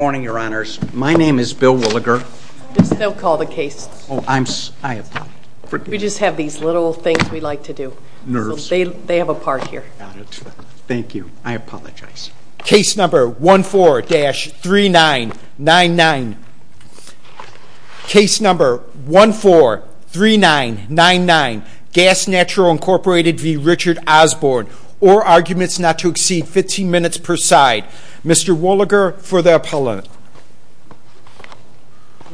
Good morning, your honors. My name is Bill Wolliger. You can still call the case. Oh, I'm sorry. We just have these little things we like to do. Nerves. They have a part here. Got it. Thank you. I apologize. Case number 14-3999. Case number 14-3999. Gas Natural Incorporated v. Richard Osborne. Or arguments not to exceed 15 minutes per side. Mr. Wolliger for the appellant.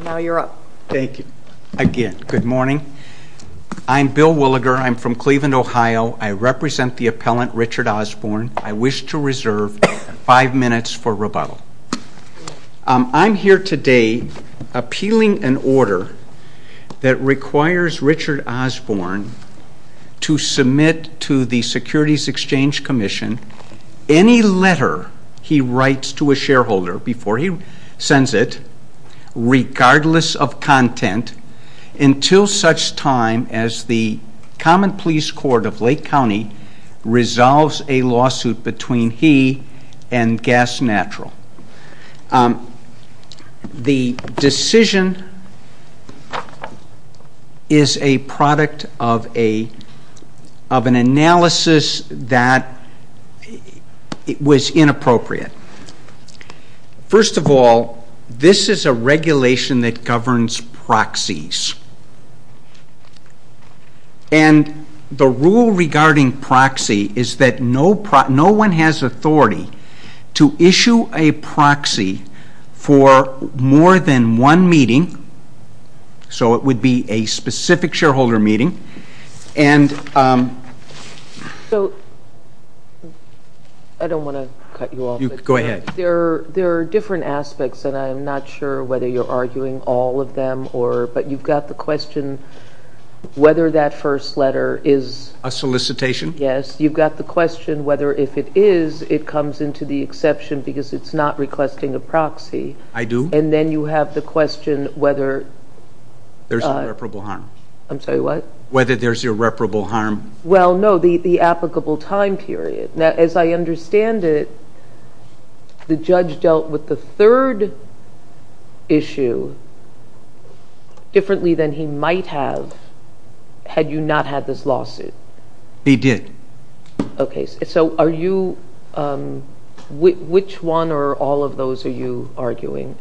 Now you're up. Thank you. Again, good morning. I'm Bill Wolliger. I'm from Cleveland, Ohio. I represent the appellant, Richard Osborne. I wish to reserve five minutes for rebuttal. I'm here today appealing an order that requires Richard Osborne to submit to the Securities Exchange Commission any letter he writes to a shareholder before he sends it, regardless of content, until such time as the Common Pleas Court of Lake County resolves a lawsuit between he and Gas Natural. The decision is a product of an analysis that was inappropriate. First of all, this is a regulation that governs proxies. And the rule regarding proxy is that no one has authority to issue a proxy for more than one meeting. So it would be a specific shareholder meeting. I don't want to cut you off. Go ahead. There are different aspects, and I'm not sure whether you're arguing all of them, but you've got the question whether that first letter is a solicitation. Yes. You've got the question whether if it is, it comes into the exception because it's not requesting a proxy. I do. And then you have the question whether there's irreparable harm. I'm sorry, what? Whether there's irreparable harm. Well, no, the applicable time period. Now, as I understand it, the judge dealt with the third issue differently than he might have had you not had this lawsuit. He did. Okay. So are you, which one or all of those are you arguing?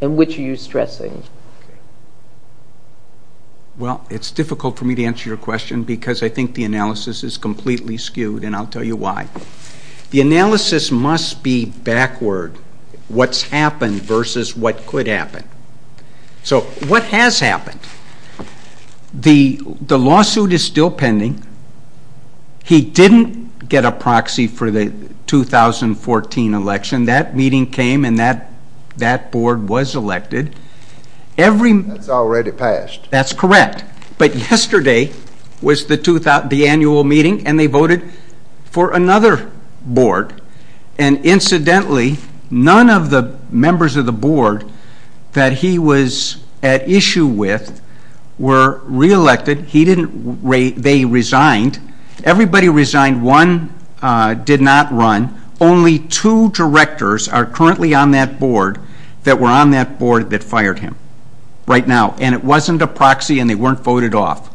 And which are you stressing? Well, it's difficult for me to answer your question because I think the analysis is completely skewed, and I'll tell you why. The analysis must be backward, what's happened versus what could happen. So what has happened? The lawsuit is still pending. He didn't get a proxy for the 2014 election. That meeting came, and that board was elected. That's already passed. That's correct. But yesterday was the annual meeting, and they voted for another board. And incidentally, none of the members of the board that he was at issue with were reelected. They resigned. Everybody resigned. One did not run. Only two directors are currently on that board that were on that board that fired him right now. And it wasn't a proxy, and they weren't voted off.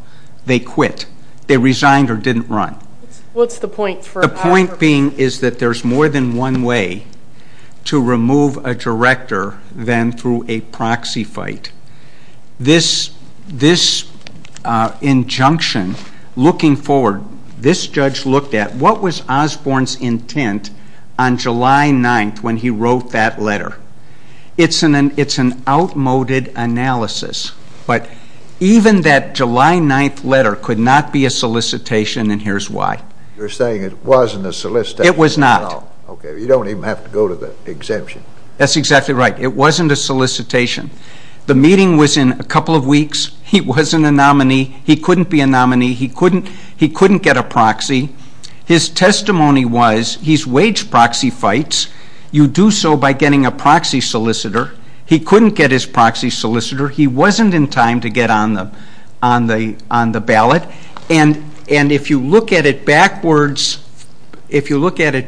They quit. They resigned or didn't run. What's the point for Osborne? The point being is that there's more than one way to remove a director than through a proxy fight. This injunction looking forward, this judge looked at what was Osborne's intent on July 9th when he wrote that letter. It's an outmoded analysis, but even that July 9th letter could not be a solicitation, and here's why. You're saying it wasn't a solicitation at all. It was not. Okay, you don't even have to go to the exemption. That's exactly right. It wasn't a solicitation. The meeting was in a couple of weeks. He wasn't a nominee. He couldn't be a nominee. He couldn't get a proxy. His testimony was he's waged proxy fights. You do so by getting a proxy solicitor. He couldn't get his proxy solicitor. He wasn't in time to get on the ballot, and if you look at it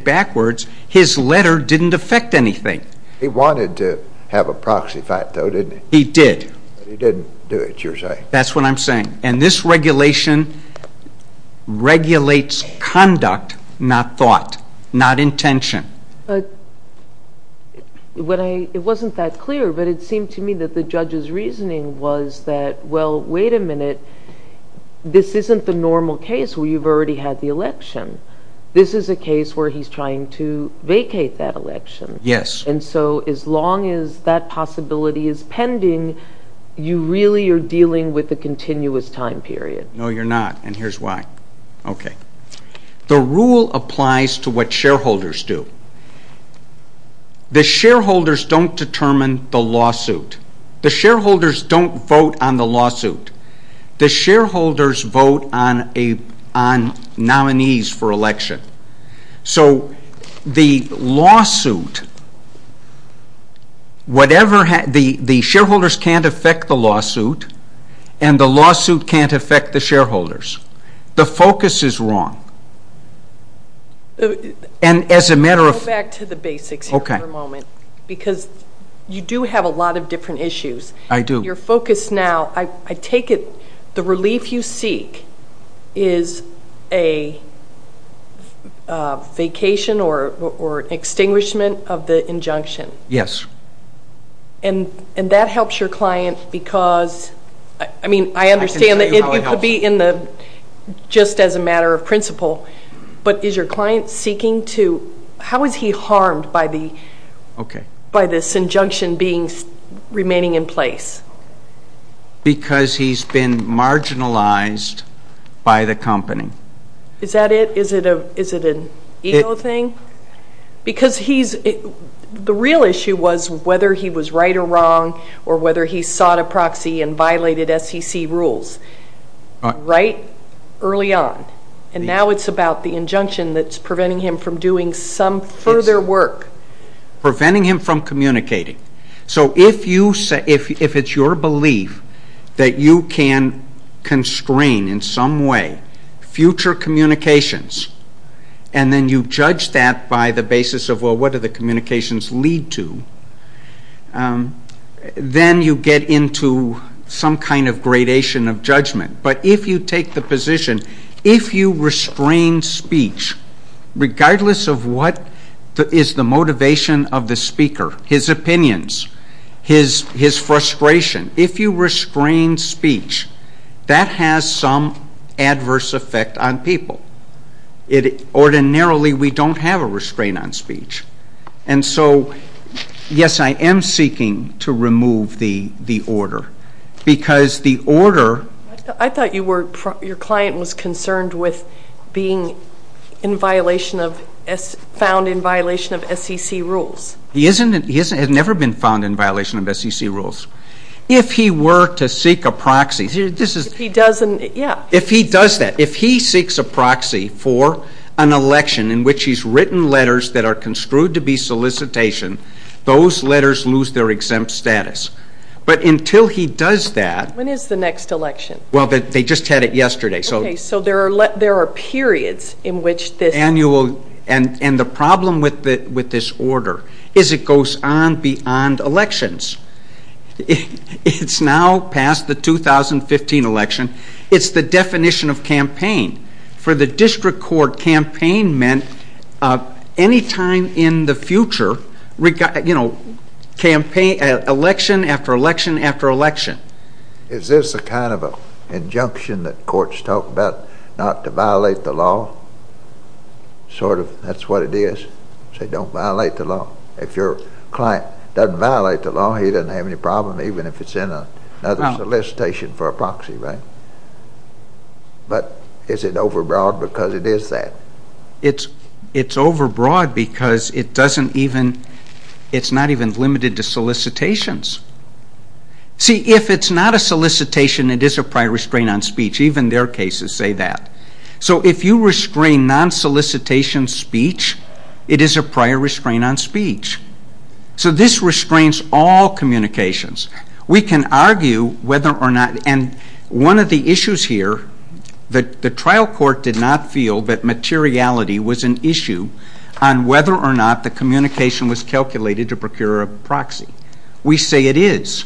backwards, his letter didn't affect anything. He wanted to have a proxy fight, though, didn't he? He did. He didn't do it, you're saying. That's what I'm saying. And this regulation regulates conduct, not thought, not intention. It wasn't that clear, but it seemed to me that the judge's reasoning was that, well, wait a minute. This isn't the normal case where you've already had the election. This is a case where he's trying to vacate that election. Yes. And so as long as that possibility is pending, you really are dealing with a continuous time period. No, you're not, and here's why. Okay. The rule applies to what shareholders do. The shareholders don't determine the lawsuit. The shareholders don't vote on the lawsuit. The shareholders vote on nominees for election. So the lawsuit, whatever, the shareholders can't affect the lawsuit, and the lawsuit can't affect the shareholders. The focus is wrong. And as a matter of... Go back to the basics here for a moment. Okay. Because you do have a lot of different issues. I do. Your focus now, I take it the relief you seek is a vacation or extinguishment of the injunction. Yes. And that helps your client because, I mean, I understand that it could be just as a matter of principle, but is your client seeking to... How is he harmed by this injunction remaining in place? Because he's been marginalized by the company. Is that it? Is it an ego thing? Because he's... The real issue was whether he was right or wrong or whether he sought a proxy and violated SEC rules right early on, and now it's about the injunction that's preventing him from doing some further work. Preventing him from communicating. So if it's your belief that you can constrain in some way future communications and then you judge that by the basis of, well, what do the communications lead to, then you get into some kind of gradation of judgment. But if you take the position, if you restrain speech, regardless of what is the motivation of the speaker, his opinions, his frustration, if you restrain speech, that has some adverse effect on people. Ordinarily, we don't have a restraint on speech. And so, yes, I am seeking to remove the order because the order... I thought your client was concerned with being found in violation of SEC rules. He has never been found in violation of SEC rules. If he were to seek a proxy, this is... If he doesn't... If he does that. If he seeks a proxy for an election in which he's written letters that are construed to be solicitation, those letters lose their exempt status. But until he does that... When is the next election? Well, they just had it yesterday. Okay, so there are periods in which this... And the problem with this order is it goes on beyond elections. It's now past the 2015 election. It's the definition of campaign. For the district court, campaign meant any time in the future, you know, election after election after election. Is this a kind of an injunction that courts talk about not to violate the law? Sort of, that's what it is. Say, don't violate the law. If your client doesn't violate the law, he doesn't have any problem even if it's in another solicitation for a proxy, right? But is it overbroad because it is that? It's overbroad because it doesn't even... It's not even limited to solicitations. See, if it's not a solicitation, it is a prior restraint on speech. Even their cases say that. So if you restrain non-solicitation speech, it is a prior restraint on speech. So this restrains all communications. We can argue whether or not... And one of the issues here, the trial court did not feel that materiality was an issue on whether or not the communication was calculated to procure a proxy. We say it is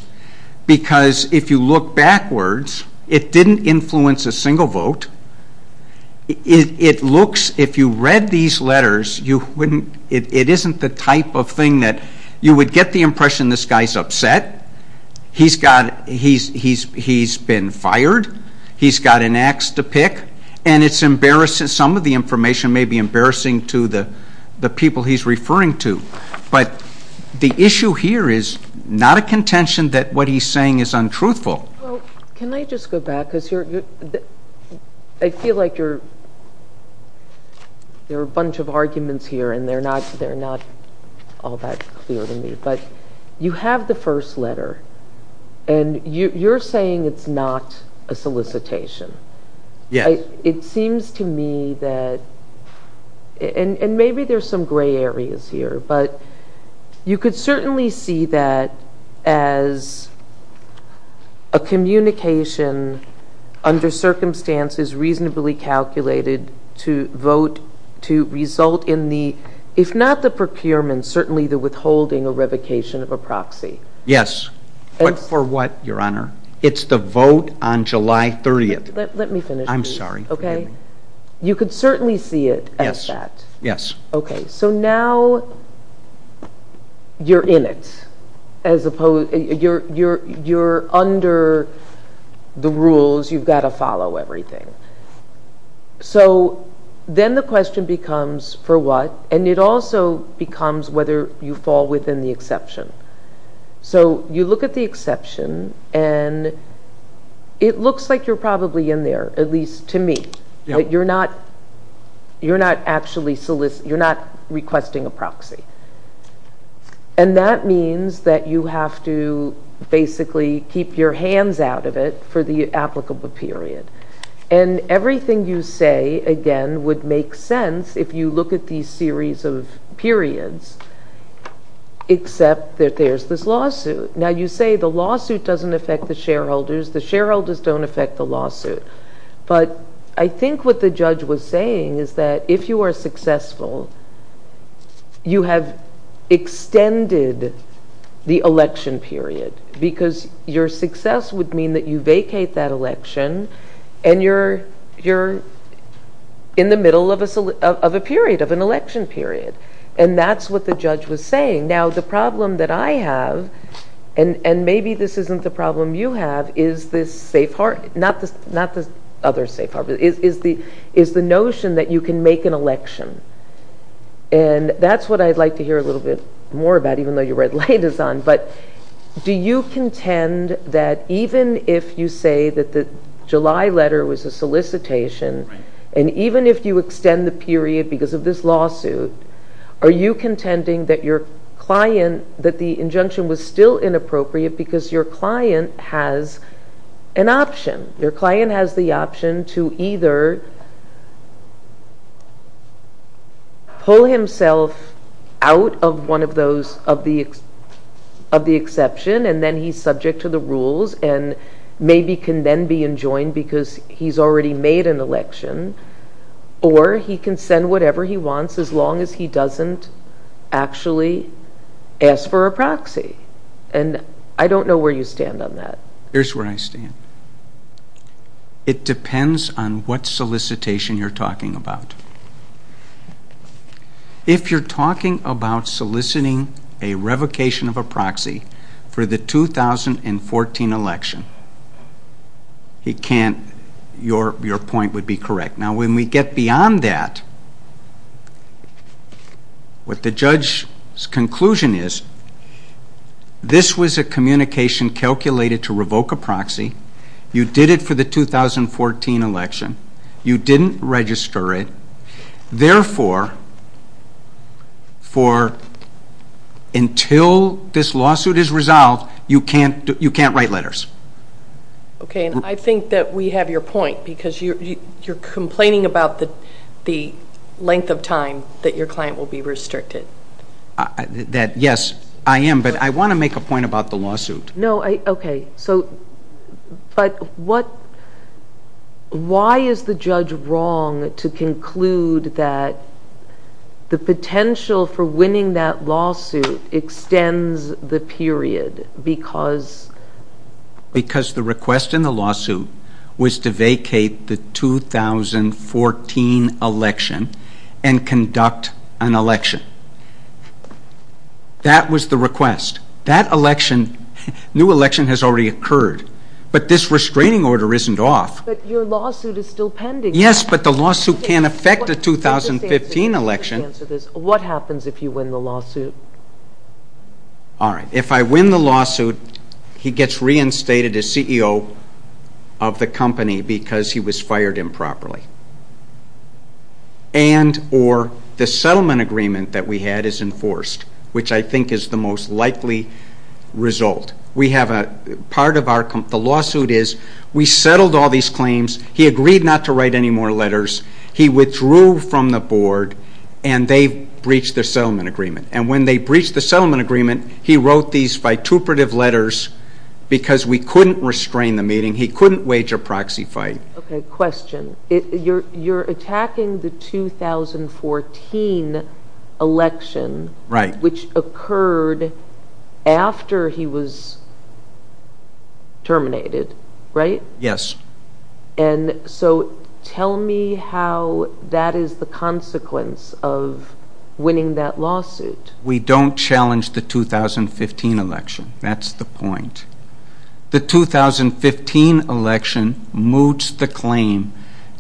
because if you look backwards, it didn't influence a single vote. It looks... If you read these letters, you wouldn't... It isn't the type of thing that you would get the impression this guy's upset. He's been fired. He's got an ax to pick. And it's embarrassing. Some of the information may be embarrassing to the people he's referring to. But the issue here is not a contention that what he's saying is untruthful. Well, can I just go back? Because I feel like there are a bunch of arguments here, and they're not all that clear to me. But you have the first letter, and you're saying it's not a solicitation. Yes. It seems to me that... And maybe there's some gray areas here. But you could certainly see that as a communication under circumstances reasonably calculated to vote to result in the, if not the procurement, certainly the withholding or revocation of a proxy. Yes. For what, Your Honor? It's the vote on July 30th. Let me finish. I'm sorry. You could certainly see it as that. Yes. So now you're in it. You're under the rules. You've got to follow everything. So then the question becomes, for what? And it also becomes whether you fall within the exception. So you look at the exception, and it looks like you're probably in there, at least to me. You're not requesting a proxy. And that means that you have to basically keep your hands out of it for the applicable period. And everything you say, again, would make sense if you look at these series of periods, except that there's this lawsuit. Now, you say the lawsuit doesn't affect the shareholders. The shareholders don't affect the lawsuit. But I think what the judge was saying is that if you are successful, you have extended the election period. Because your success would mean that you vacate that election, and you're in the middle of a period, of an election period. And that's what the judge was saying. Now, the problem that I have, and maybe this isn't the problem you have, is this safe harbor. Not the other safe harbor. Is the notion that you can make an election. And that's what I'd like to hear a little bit more about, even though your red light is on. But do you contend that even if you say that the July letter was a solicitation, and even if you extend the period because of this lawsuit, are you contending that your client, that the injunction was still inappropriate because your client has an option? Your client has the option to either pull himself out of one of those, of the exception, and then he's subject to the rules, and maybe can then be enjoined because he's already made an election. Or he can send whatever he wants as long as he doesn't actually ask for a proxy. And I don't know where you stand on that. Here's where I stand. It depends on what solicitation you're talking about. If you're talking about soliciting a revocation of a proxy for the 2014 election, your point would be correct. Now, when we get beyond that, what the judge's conclusion is, this was a communication calculated to revoke a proxy. You did it for the 2014 election. You didn't register it. Therefore, until this lawsuit is resolved, you can't write letters. Okay, and I think that we have your point because you're complaining about the length of time that your client will be restricted. Yes, I am, but I want to make a point about the lawsuit. No, okay, but why is the judge wrong to conclude that the potential for winning that lawsuit extends the period because? Because the request in the lawsuit was to vacate the 2014 election and conduct an election. That was the request. That election, new election has already occurred, but this restraining order isn't off. But your lawsuit is still pending. Yes, but the lawsuit can't affect the 2015 election. What happens if you win the lawsuit? All right, if I win the lawsuit, he gets reinstated as CEO of the company because he was fired improperly. And or the settlement agreement that we had is enforced, which I think is the most likely result. We have a part of our, the lawsuit is we settled all these claims. He agreed not to write any more letters. He withdrew from the board, and they breached the settlement agreement. And when they breached the settlement agreement, he wrote these vituperative letters because we couldn't restrain the meeting. He couldn't wage a proxy fight. Okay, question. You're attacking the 2014 election, which occurred after he was terminated, right? Yes. And so tell me how that is the consequence of winning that lawsuit. We don't challenge the 2015 election. That's the point. The 2015 election moots the claim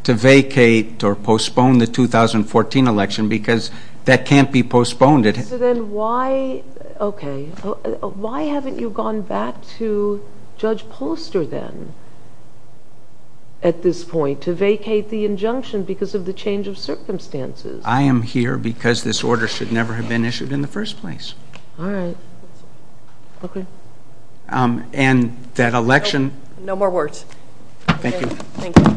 to vacate or postpone the 2014 election because that can't be postponed. So then why, okay, why haven't you gone back to Judge Polster then at this point to vacate the injunction because of the change of circumstances? I am here because this order should never have been issued in the first place. All right. Okay. And that election. No more words. Thank you. Thank you.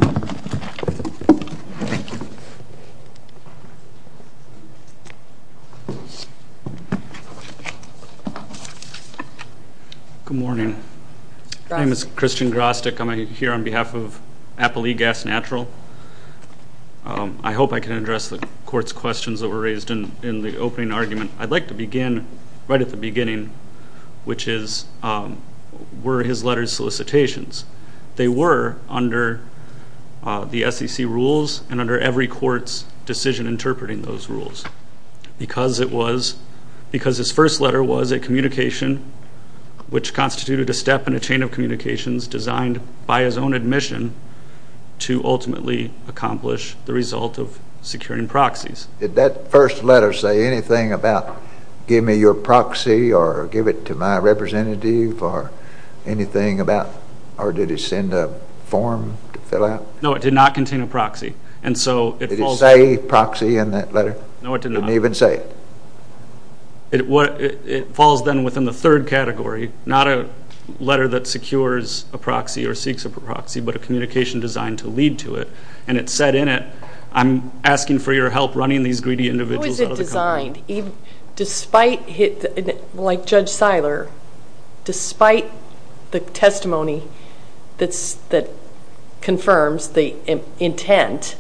Good morning. My name is Christian Grostick. I'm here on behalf of Appali Gas Natural. I hope I can address the court's questions that were raised in the opening argument. I'd like to begin right at the beginning, which is were his letters solicitations. They were under the SEC rules and under every court's decision interpreting those rules because it was, because his first letter was a communication which constituted a step in a chain of communications designed by his own admission to ultimately accomplish the result of securing proxies. Did that first letter say anything about give me your proxy or give it to my representative or anything about, or did he send a form to fill out? No, it did not contain a proxy. Did it say proxy in that letter? No, it did not. It didn't even say it. It falls then within the third category, not a letter that secures a proxy or seeks a proxy, but a communication designed to lead to it. And it said in it, I'm asking for your help running these greedy individuals out of the company. How is it designed? Despite, like Judge Seiler, despite the testimony that confirms the intent,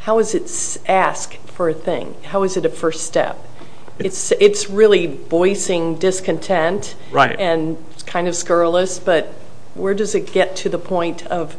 how is it asked for a thing? How is it a first step? It's really voicing discontent and kind of scurrilous, but where does it get to the point that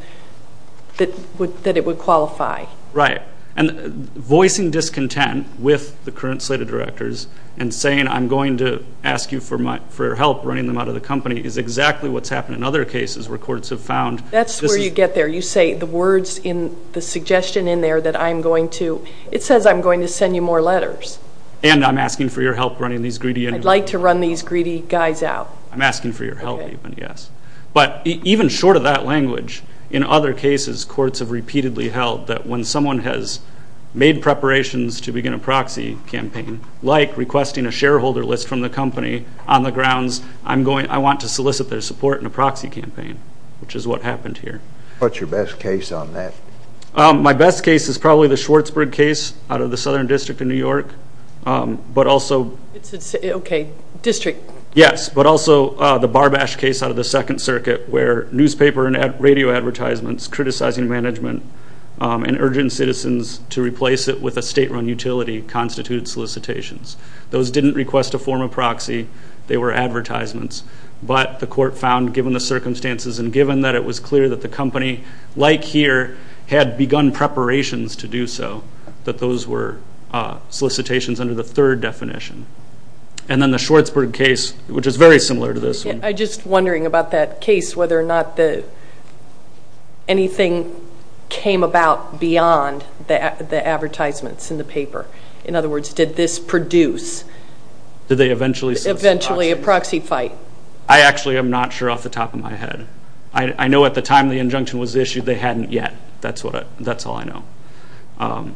it would qualify? Right. And voicing discontent with the current slate of directors and saying I'm going to ask you for your help running them out of the company is exactly what's happened in other cases where courts have found. That's where you get there. You say the words in the suggestion in there that I'm going to, it says I'm going to send you more letters. And I'm asking for your help running these greedy individuals. I'd like to run these greedy guys out. I'm asking for your help even, yes. But even short of that language, in other cases, courts have repeatedly held that when someone has made preparations to begin a proxy campaign, like requesting a shareholder list from the company on the grounds I want to solicit their support in a proxy campaign, which is what happened here. What's your best case on that? My best case is probably the Schwartzburg case out of the Southern District in New York, but also. Okay, district. Yes, but also the Barbash case out of the Second Circuit, where newspaper and radio advertisements criticizing management and urging citizens to replace it with a state-run utility constitute solicitations. Those didn't request a form of proxy. They were advertisements. But the court found, given the circumstances and given that it was clear that the company, like here, had begun preparations to do so, that those were solicitations under the third definition. And then the Schwartzburg case, which is very similar to this one. I'm just wondering about that case, whether or not anything came about beyond the advertisements in the paper. In other words, did this produce eventually a proxy fight? I actually am not sure off the top of my head. I know at the time the injunction was issued, they hadn't yet. That's all I know.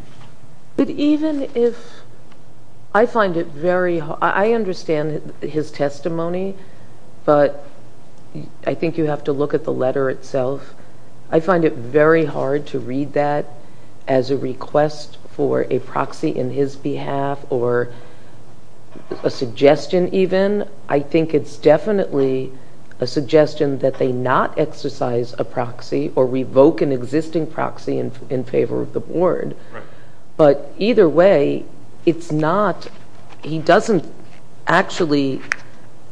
But even if I find it very hard. I understand his testimony, but I think you have to look at the letter itself. I find it very hard to read that as a request for a proxy in his behalf or a suggestion even. I think it's definitely a suggestion that they not exercise a proxy or revoke an existing proxy in favor of the board. But either way, he doesn't actually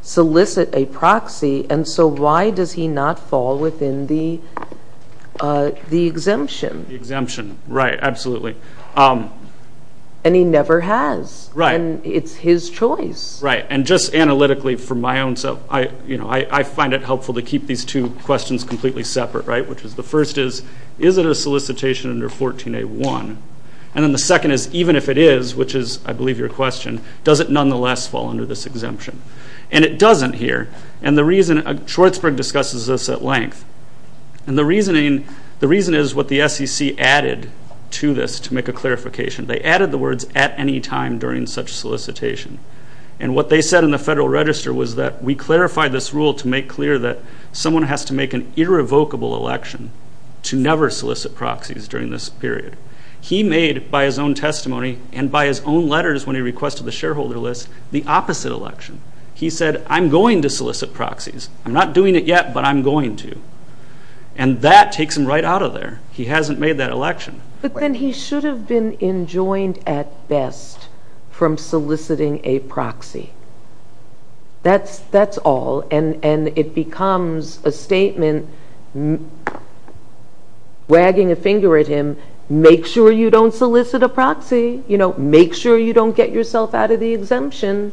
solicit a proxy. And so why does he not fall within the exemption? The exemption. Right. Absolutely. And he never has. Right. And it's his choice. Right. And just analytically for my own self, I find it helpful to keep these two questions completely separate, right? Which is the first is, is it a solicitation under 14A1? And then the second is, even if it is, which is I believe your question, does it nonetheless fall under this exemption? And it doesn't here. And the reason, Schwartzberg discusses this at length. And the reason is what the SEC added to this to make a clarification. They added the words at any time during such solicitation. And what they said in the Federal Register was that we clarify this rule to make clear that someone has to make an irrevocable election to never solicit proxies during this period. He made, by his own testimony and by his own letters when he requested the shareholder list, the opposite election. He said, I'm going to solicit proxies. I'm not doing it yet, but I'm going to. And that takes him right out of there. He hasn't made that election. But then he should have been enjoined at best from soliciting a proxy. That's all. And it becomes a statement wagging a finger at him, make sure you don't solicit a proxy. Make sure you don't get yourself out of the exemption.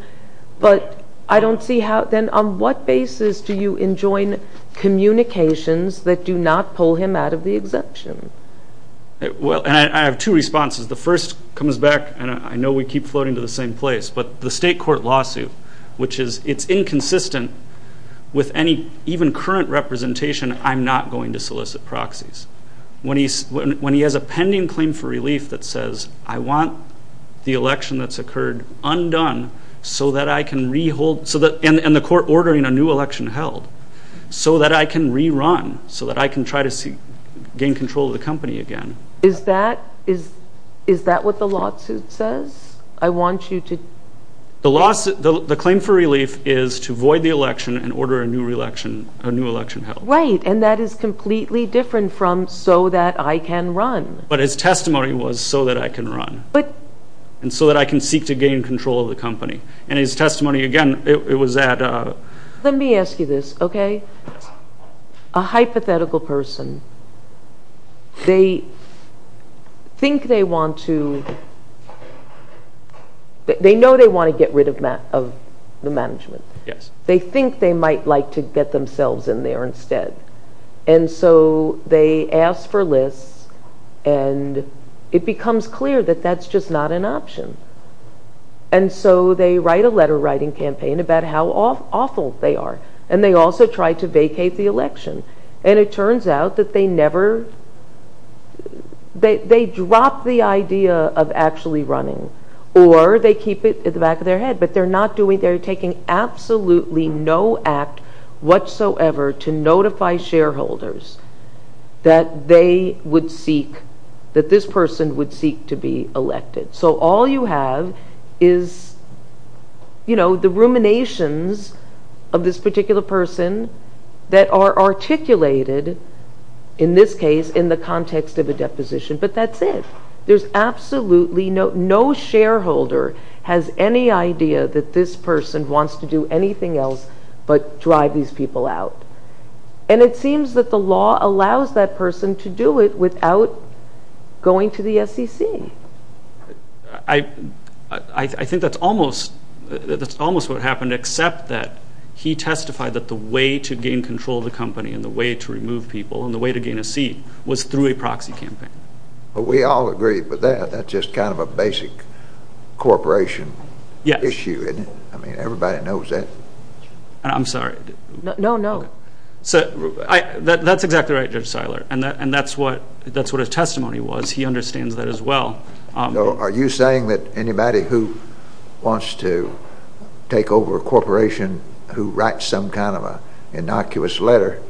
But I don't see how then on what basis do you enjoin communications that do not pull him out of the exemption? Well, and I have two responses. The first comes back, and I know we keep floating to the same place, but the state court lawsuit, which is it's inconsistent with any even current representation, I'm not going to solicit proxies. When he has a pending claim for relief that says, I want the election that's occurred undone so that I can re-hold, and the court ordering a new election held, so that I can rerun, so that I can try to gain control of the company again. Is that what the lawsuit says? I want you to? The claim for relief is to void the election and order a new election held. Right, and that is completely different from, so that I can run. But his testimony was, so that I can run. And so that I can seek to gain control of the company. And his testimony, again, it was that. Let me ask you this, okay? A hypothetical person, they think they want to, they know they want to get rid of the management. They think they might like to get themselves in there instead. And so they ask for lists, and it becomes clear that that's just not an option. And so they write a letter writing campaign about how awful they are. And they also try to vacate the election. And it turns out that they never, they drop the idea of actually running. Or they keep it at the back of their head. But they're not doing, they're taking absolutely no act whatsoever to notify shareholders that they would seek, that this person would seek to be elected. So all you have is, you know, the ruminations of this particular person that are articulated, in this case, in the context of a deposition. But that's it. There's absolutely no, no shareholder has any idea that this person wants to do anything else but drive these people out. And it seems that the law allows that person to do it without going to the SEC. I think that's almost, that's almost what happened, except that he testified that the way to gain control of the company and the way to remove people and the way to gain a seat was through a proxy campaign. But we all agree with that. That's just kind of a basic corporation issue, isn't it? Yes. I mean, everybody knows that. I'm sorry. No, no. That's exactly right, Judge Seiler. And that's what his testimony was. He understands that as well. Are you saying that anybody who wants to take over a corporation who writes some kind of innocuous letter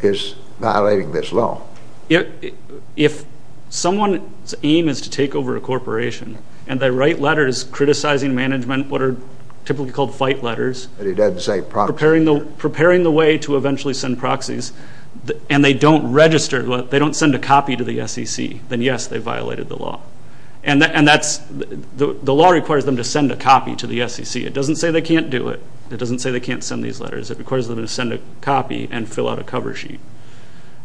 is violating this law? If someone's aim is to take over a corporation and they write letters criticizing management, what are typically called fight letters, preparing the way to eventually send proxies, and they don't register, they don't send a copy to the SEC, then, yes, they violated the law. And that's, the law requires them to send a copy to the SEC. It doesn't say they can't do it. It doesn't say they can't send these letters. It requires them to send a copy and fill out a cover sheet.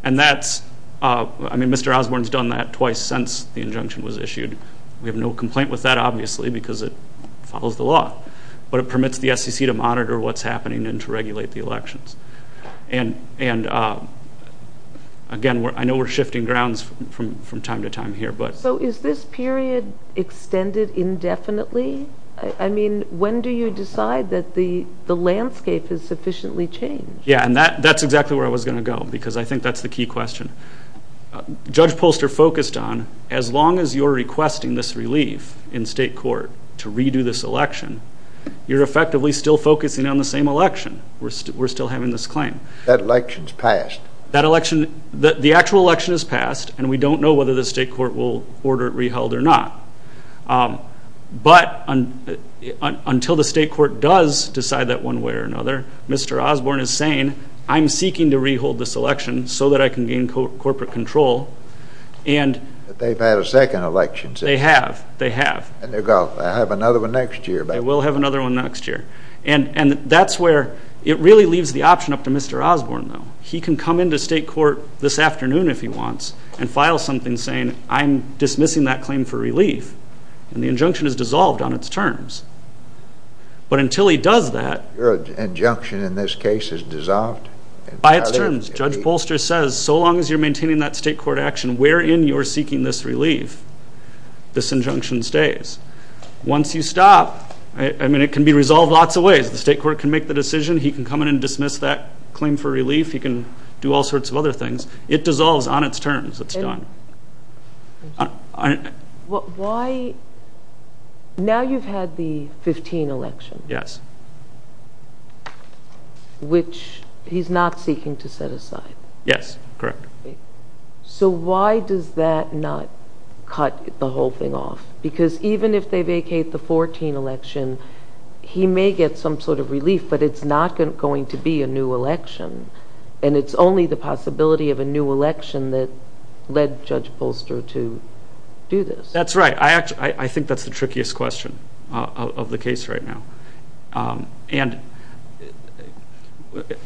And that's, I mean, Mr. Osborne's done that twice since the injunction was issued. We have no complaint with that, obviously, because it follows the law. But it permits the SEC to monitor what's happening and to regulate the elections. And, again, I know we're shifting grounds from time to time here. So is this period extended indefinitely? I mean, when do you decide that the landscape has sufficiently changed? Yeah, and that's exactly where I was going to go, because I think that's the key question. Judge Polster focused on as long as you're requesting this relief in state court to redo this election, you're effectively still focusing on the same election. We're still having this claim. That election's passed. That election, the actual election is passed, and we don't know whether the state court will order it re-held or not. But until the state court does decide that one way or another, Mr. Osborne is saying, I'm seeking to re-hold this election so that I can gain corporate control. But they've had a second election. They have. They have. And they're going to have another one next year. They will have another one next year. And that's where it really leaves the option up to Mr. Osborne, though. He can come into state court this afternoon, if he wants, and file something saying, I'm dismissing that claim for relief. And the injunction is dissolved on its terms. But until he does that. Your injunction in this case is dissolved? By its terms. Judge Bolster says, so long as you're maintaining that state court action, wherein you're seeking this relief, this injunction stays. Once you stop, I mean, it can be resolved lots of ways. The state court can make the decision. He can come in and dismiss that claim for relief. He can do all sorts of other things. It dissolves on its terms. It's done. Now you've had the 15th election. Yes. Which he's not seeking to set aside. Yes, correct. So why does that not cut the whole thing off? Because even if they vacate the 14th election, he may get some sort of relief. But it's not going to be a new election. And it's only the possibility of a new election that led Judge Bolster to do this. That's right. I think that's the trickiest question of the case right now. And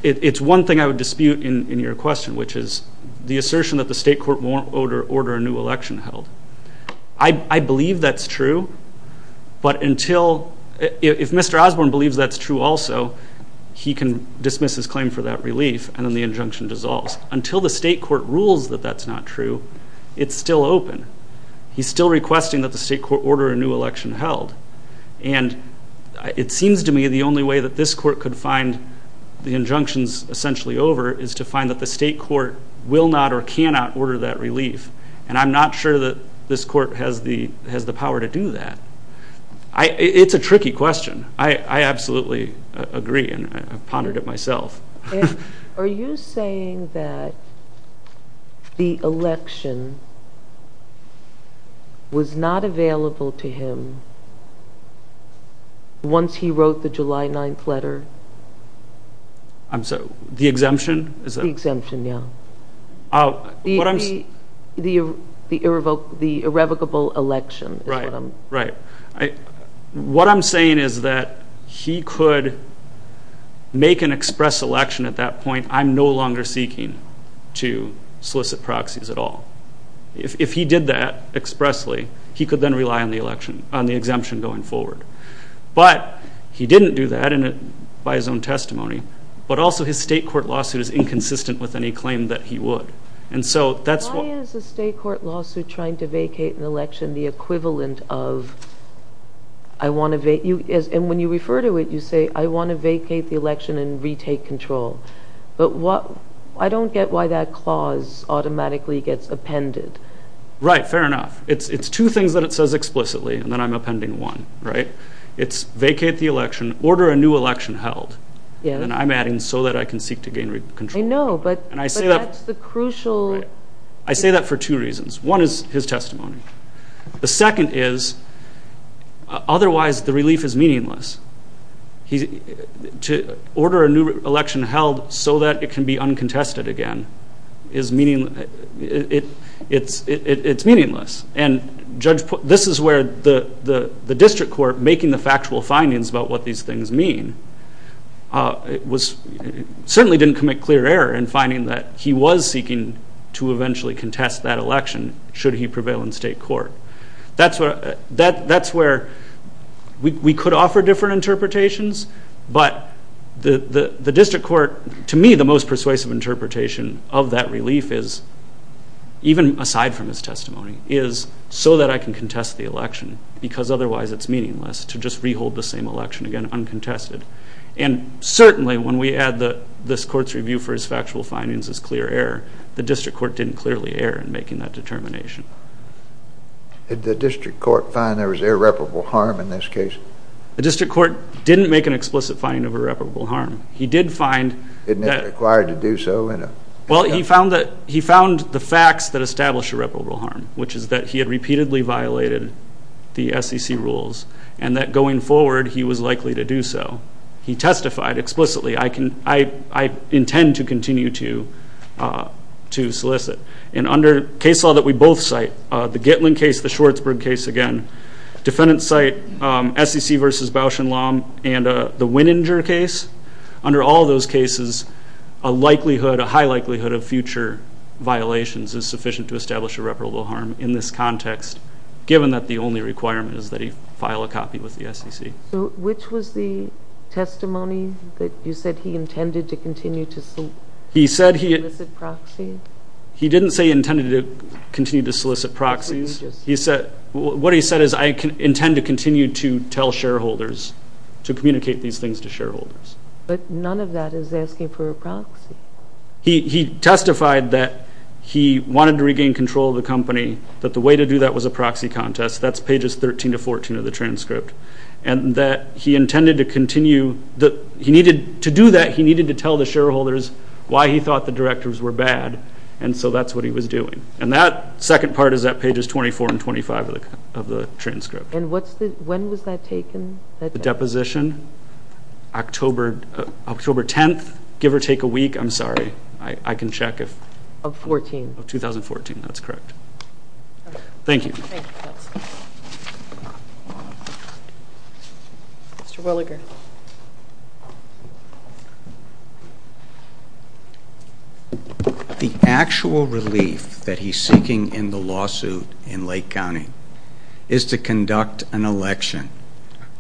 it's one thing I would dispute in your question, which is the assertion that the state court won't order a new election held. I believe that's true. But until, if Mr. Osborne believes that's true also, he can dismiss his claim for that relief, and then the injunction dissolves. Until the state court rules that that's not true, it's still open. He's still requesting that the state court order a new election held. And it seems to me the only way that this court could find the injunctions essentially over is to find that the state court will not or cannot order that relief. And I'm not sure that this court has the power to do that. It's a tricky question. I absolutely agree, and I've pondered it myself. Are you saying that the election was not available to him once he wrote the July 9th letter? The exemption? The exemption, yeah. The irrevocable election is what I'm saying. Right. What I'm saying is that he could make an express election at that point, I'm no longer seeking to solicit proxies at all. If he did that expressly, he could then rely on the exemption going forward. But he didn't do that by his own testimony, but also his state court lawsuit is inconsistent with any claim that he would. Why is a state court lawsuit trying to vacate an election the equivalent of I want to vacate? And when you refer to it, you say I want to vacate the election and retake control. But I don't get why that clause automatically gets appended. Right, fair enough. It's two things that it says explicitly, and then I'm appending one. It's vacate the election, order a new election held. And I'm adding so that I can seek to gain control. I know, but that's the crucial. I say that for two reasons. One is his testimony. The second is otherwise the relief is meaningless. To order a new election held so that it can be uncontested again is meaningless. It's meaningless. And this is where the district court making the factual findings about what these things mean certainly didn't commit clear error in finding that he was seeking to eventually contest that election should he prevail in state court. That's where we could offer different interpretations, but the district court, to me, the most persuasive interpretation of that relief is, even aside from his testimony, is so that I can contest the election because otherwise it's meaningless to just re-hold the same election again uncontested. And certainly when we add this court's review for his factual findings as clear error, the district court didn't clearly err in making that determination. Did the district court find there was irreparable harm in this case? The district court didn't make an explicit finding of irreparable harm. He did find that... Didn't it require to do so in a... Well, he found the facts that established irreparable harm, which is that he had repeatedly violated the SEC rules and that going forward he was likely to do so. He testified explicitly, I intend to continue to solicit. And under case law that we both cite, the Gitlin case, the Schwarzberg case again, defendants cite SEC versus Bausch and Lomb, and the Winninger case, under all those cases a likelihood, a high likelihood of future violations is sufficient to establish irreparable harm in this context given that the only requirement is that he file a copy with the SEC. So which was the testimony that you said he intended to continue to solicit proxies? He didn't say he intended to continue to solicit proxies. What he said is I intend to continue to tell shareholders, to communicate these things to shareholders. But none of that is asking for a proxy. He testified that he wanted to regain control of the company, that the way to do that was a proxy contest. That's pages 13 to 14 of the transcript. And that he intended to continue. To do that, he needed to tell the shareholders why he thought the directors were bad, and so that's what he was doing. And that second part is at pages 24 and 25 of the transcript. And when was that taken? The deposition? October 10th, give or take a week. I'm sorry, I can check. Of 2014. Of 2014, that's correct. Thank you. Mr. Williger. The actual relief that he's seeking in the lawsuit in Lake County is to conduct an election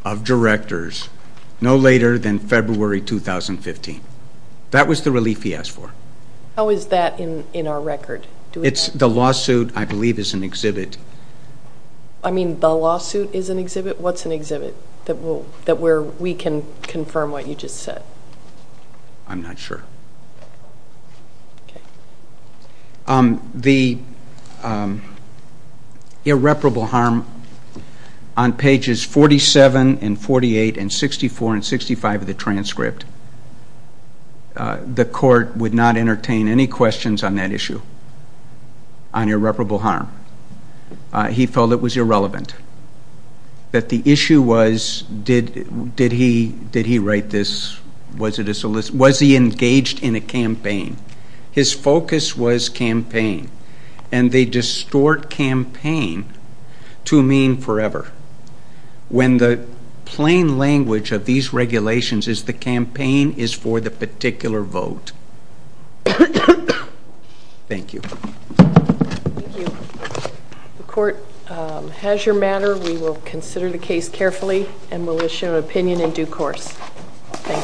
of directors no later than February 2015. That was the relief he asked for. How is that in our record? The lawsuit, I believe, is an exhibit. I mean, the lawsuit is an exhibit? What's an exhibit that we can confirm what you just said? I'm not sure. The irreparable harm on pages 47 and 48 and 64 and 65 of the transcript, the court would not entertain any questions on that issue, on irreparable harm. He felt it was irrelevant, that the issue was, did he write this? Was he engaged in a campaign? His focus was campaign, and they distort campaign to mean forever. When the plain language of these regulations is the campaign is for the particular vote. Thank you. Thank you. The court has your matter. We will consider the case carefully and will issue an opinion in due course. Thank you.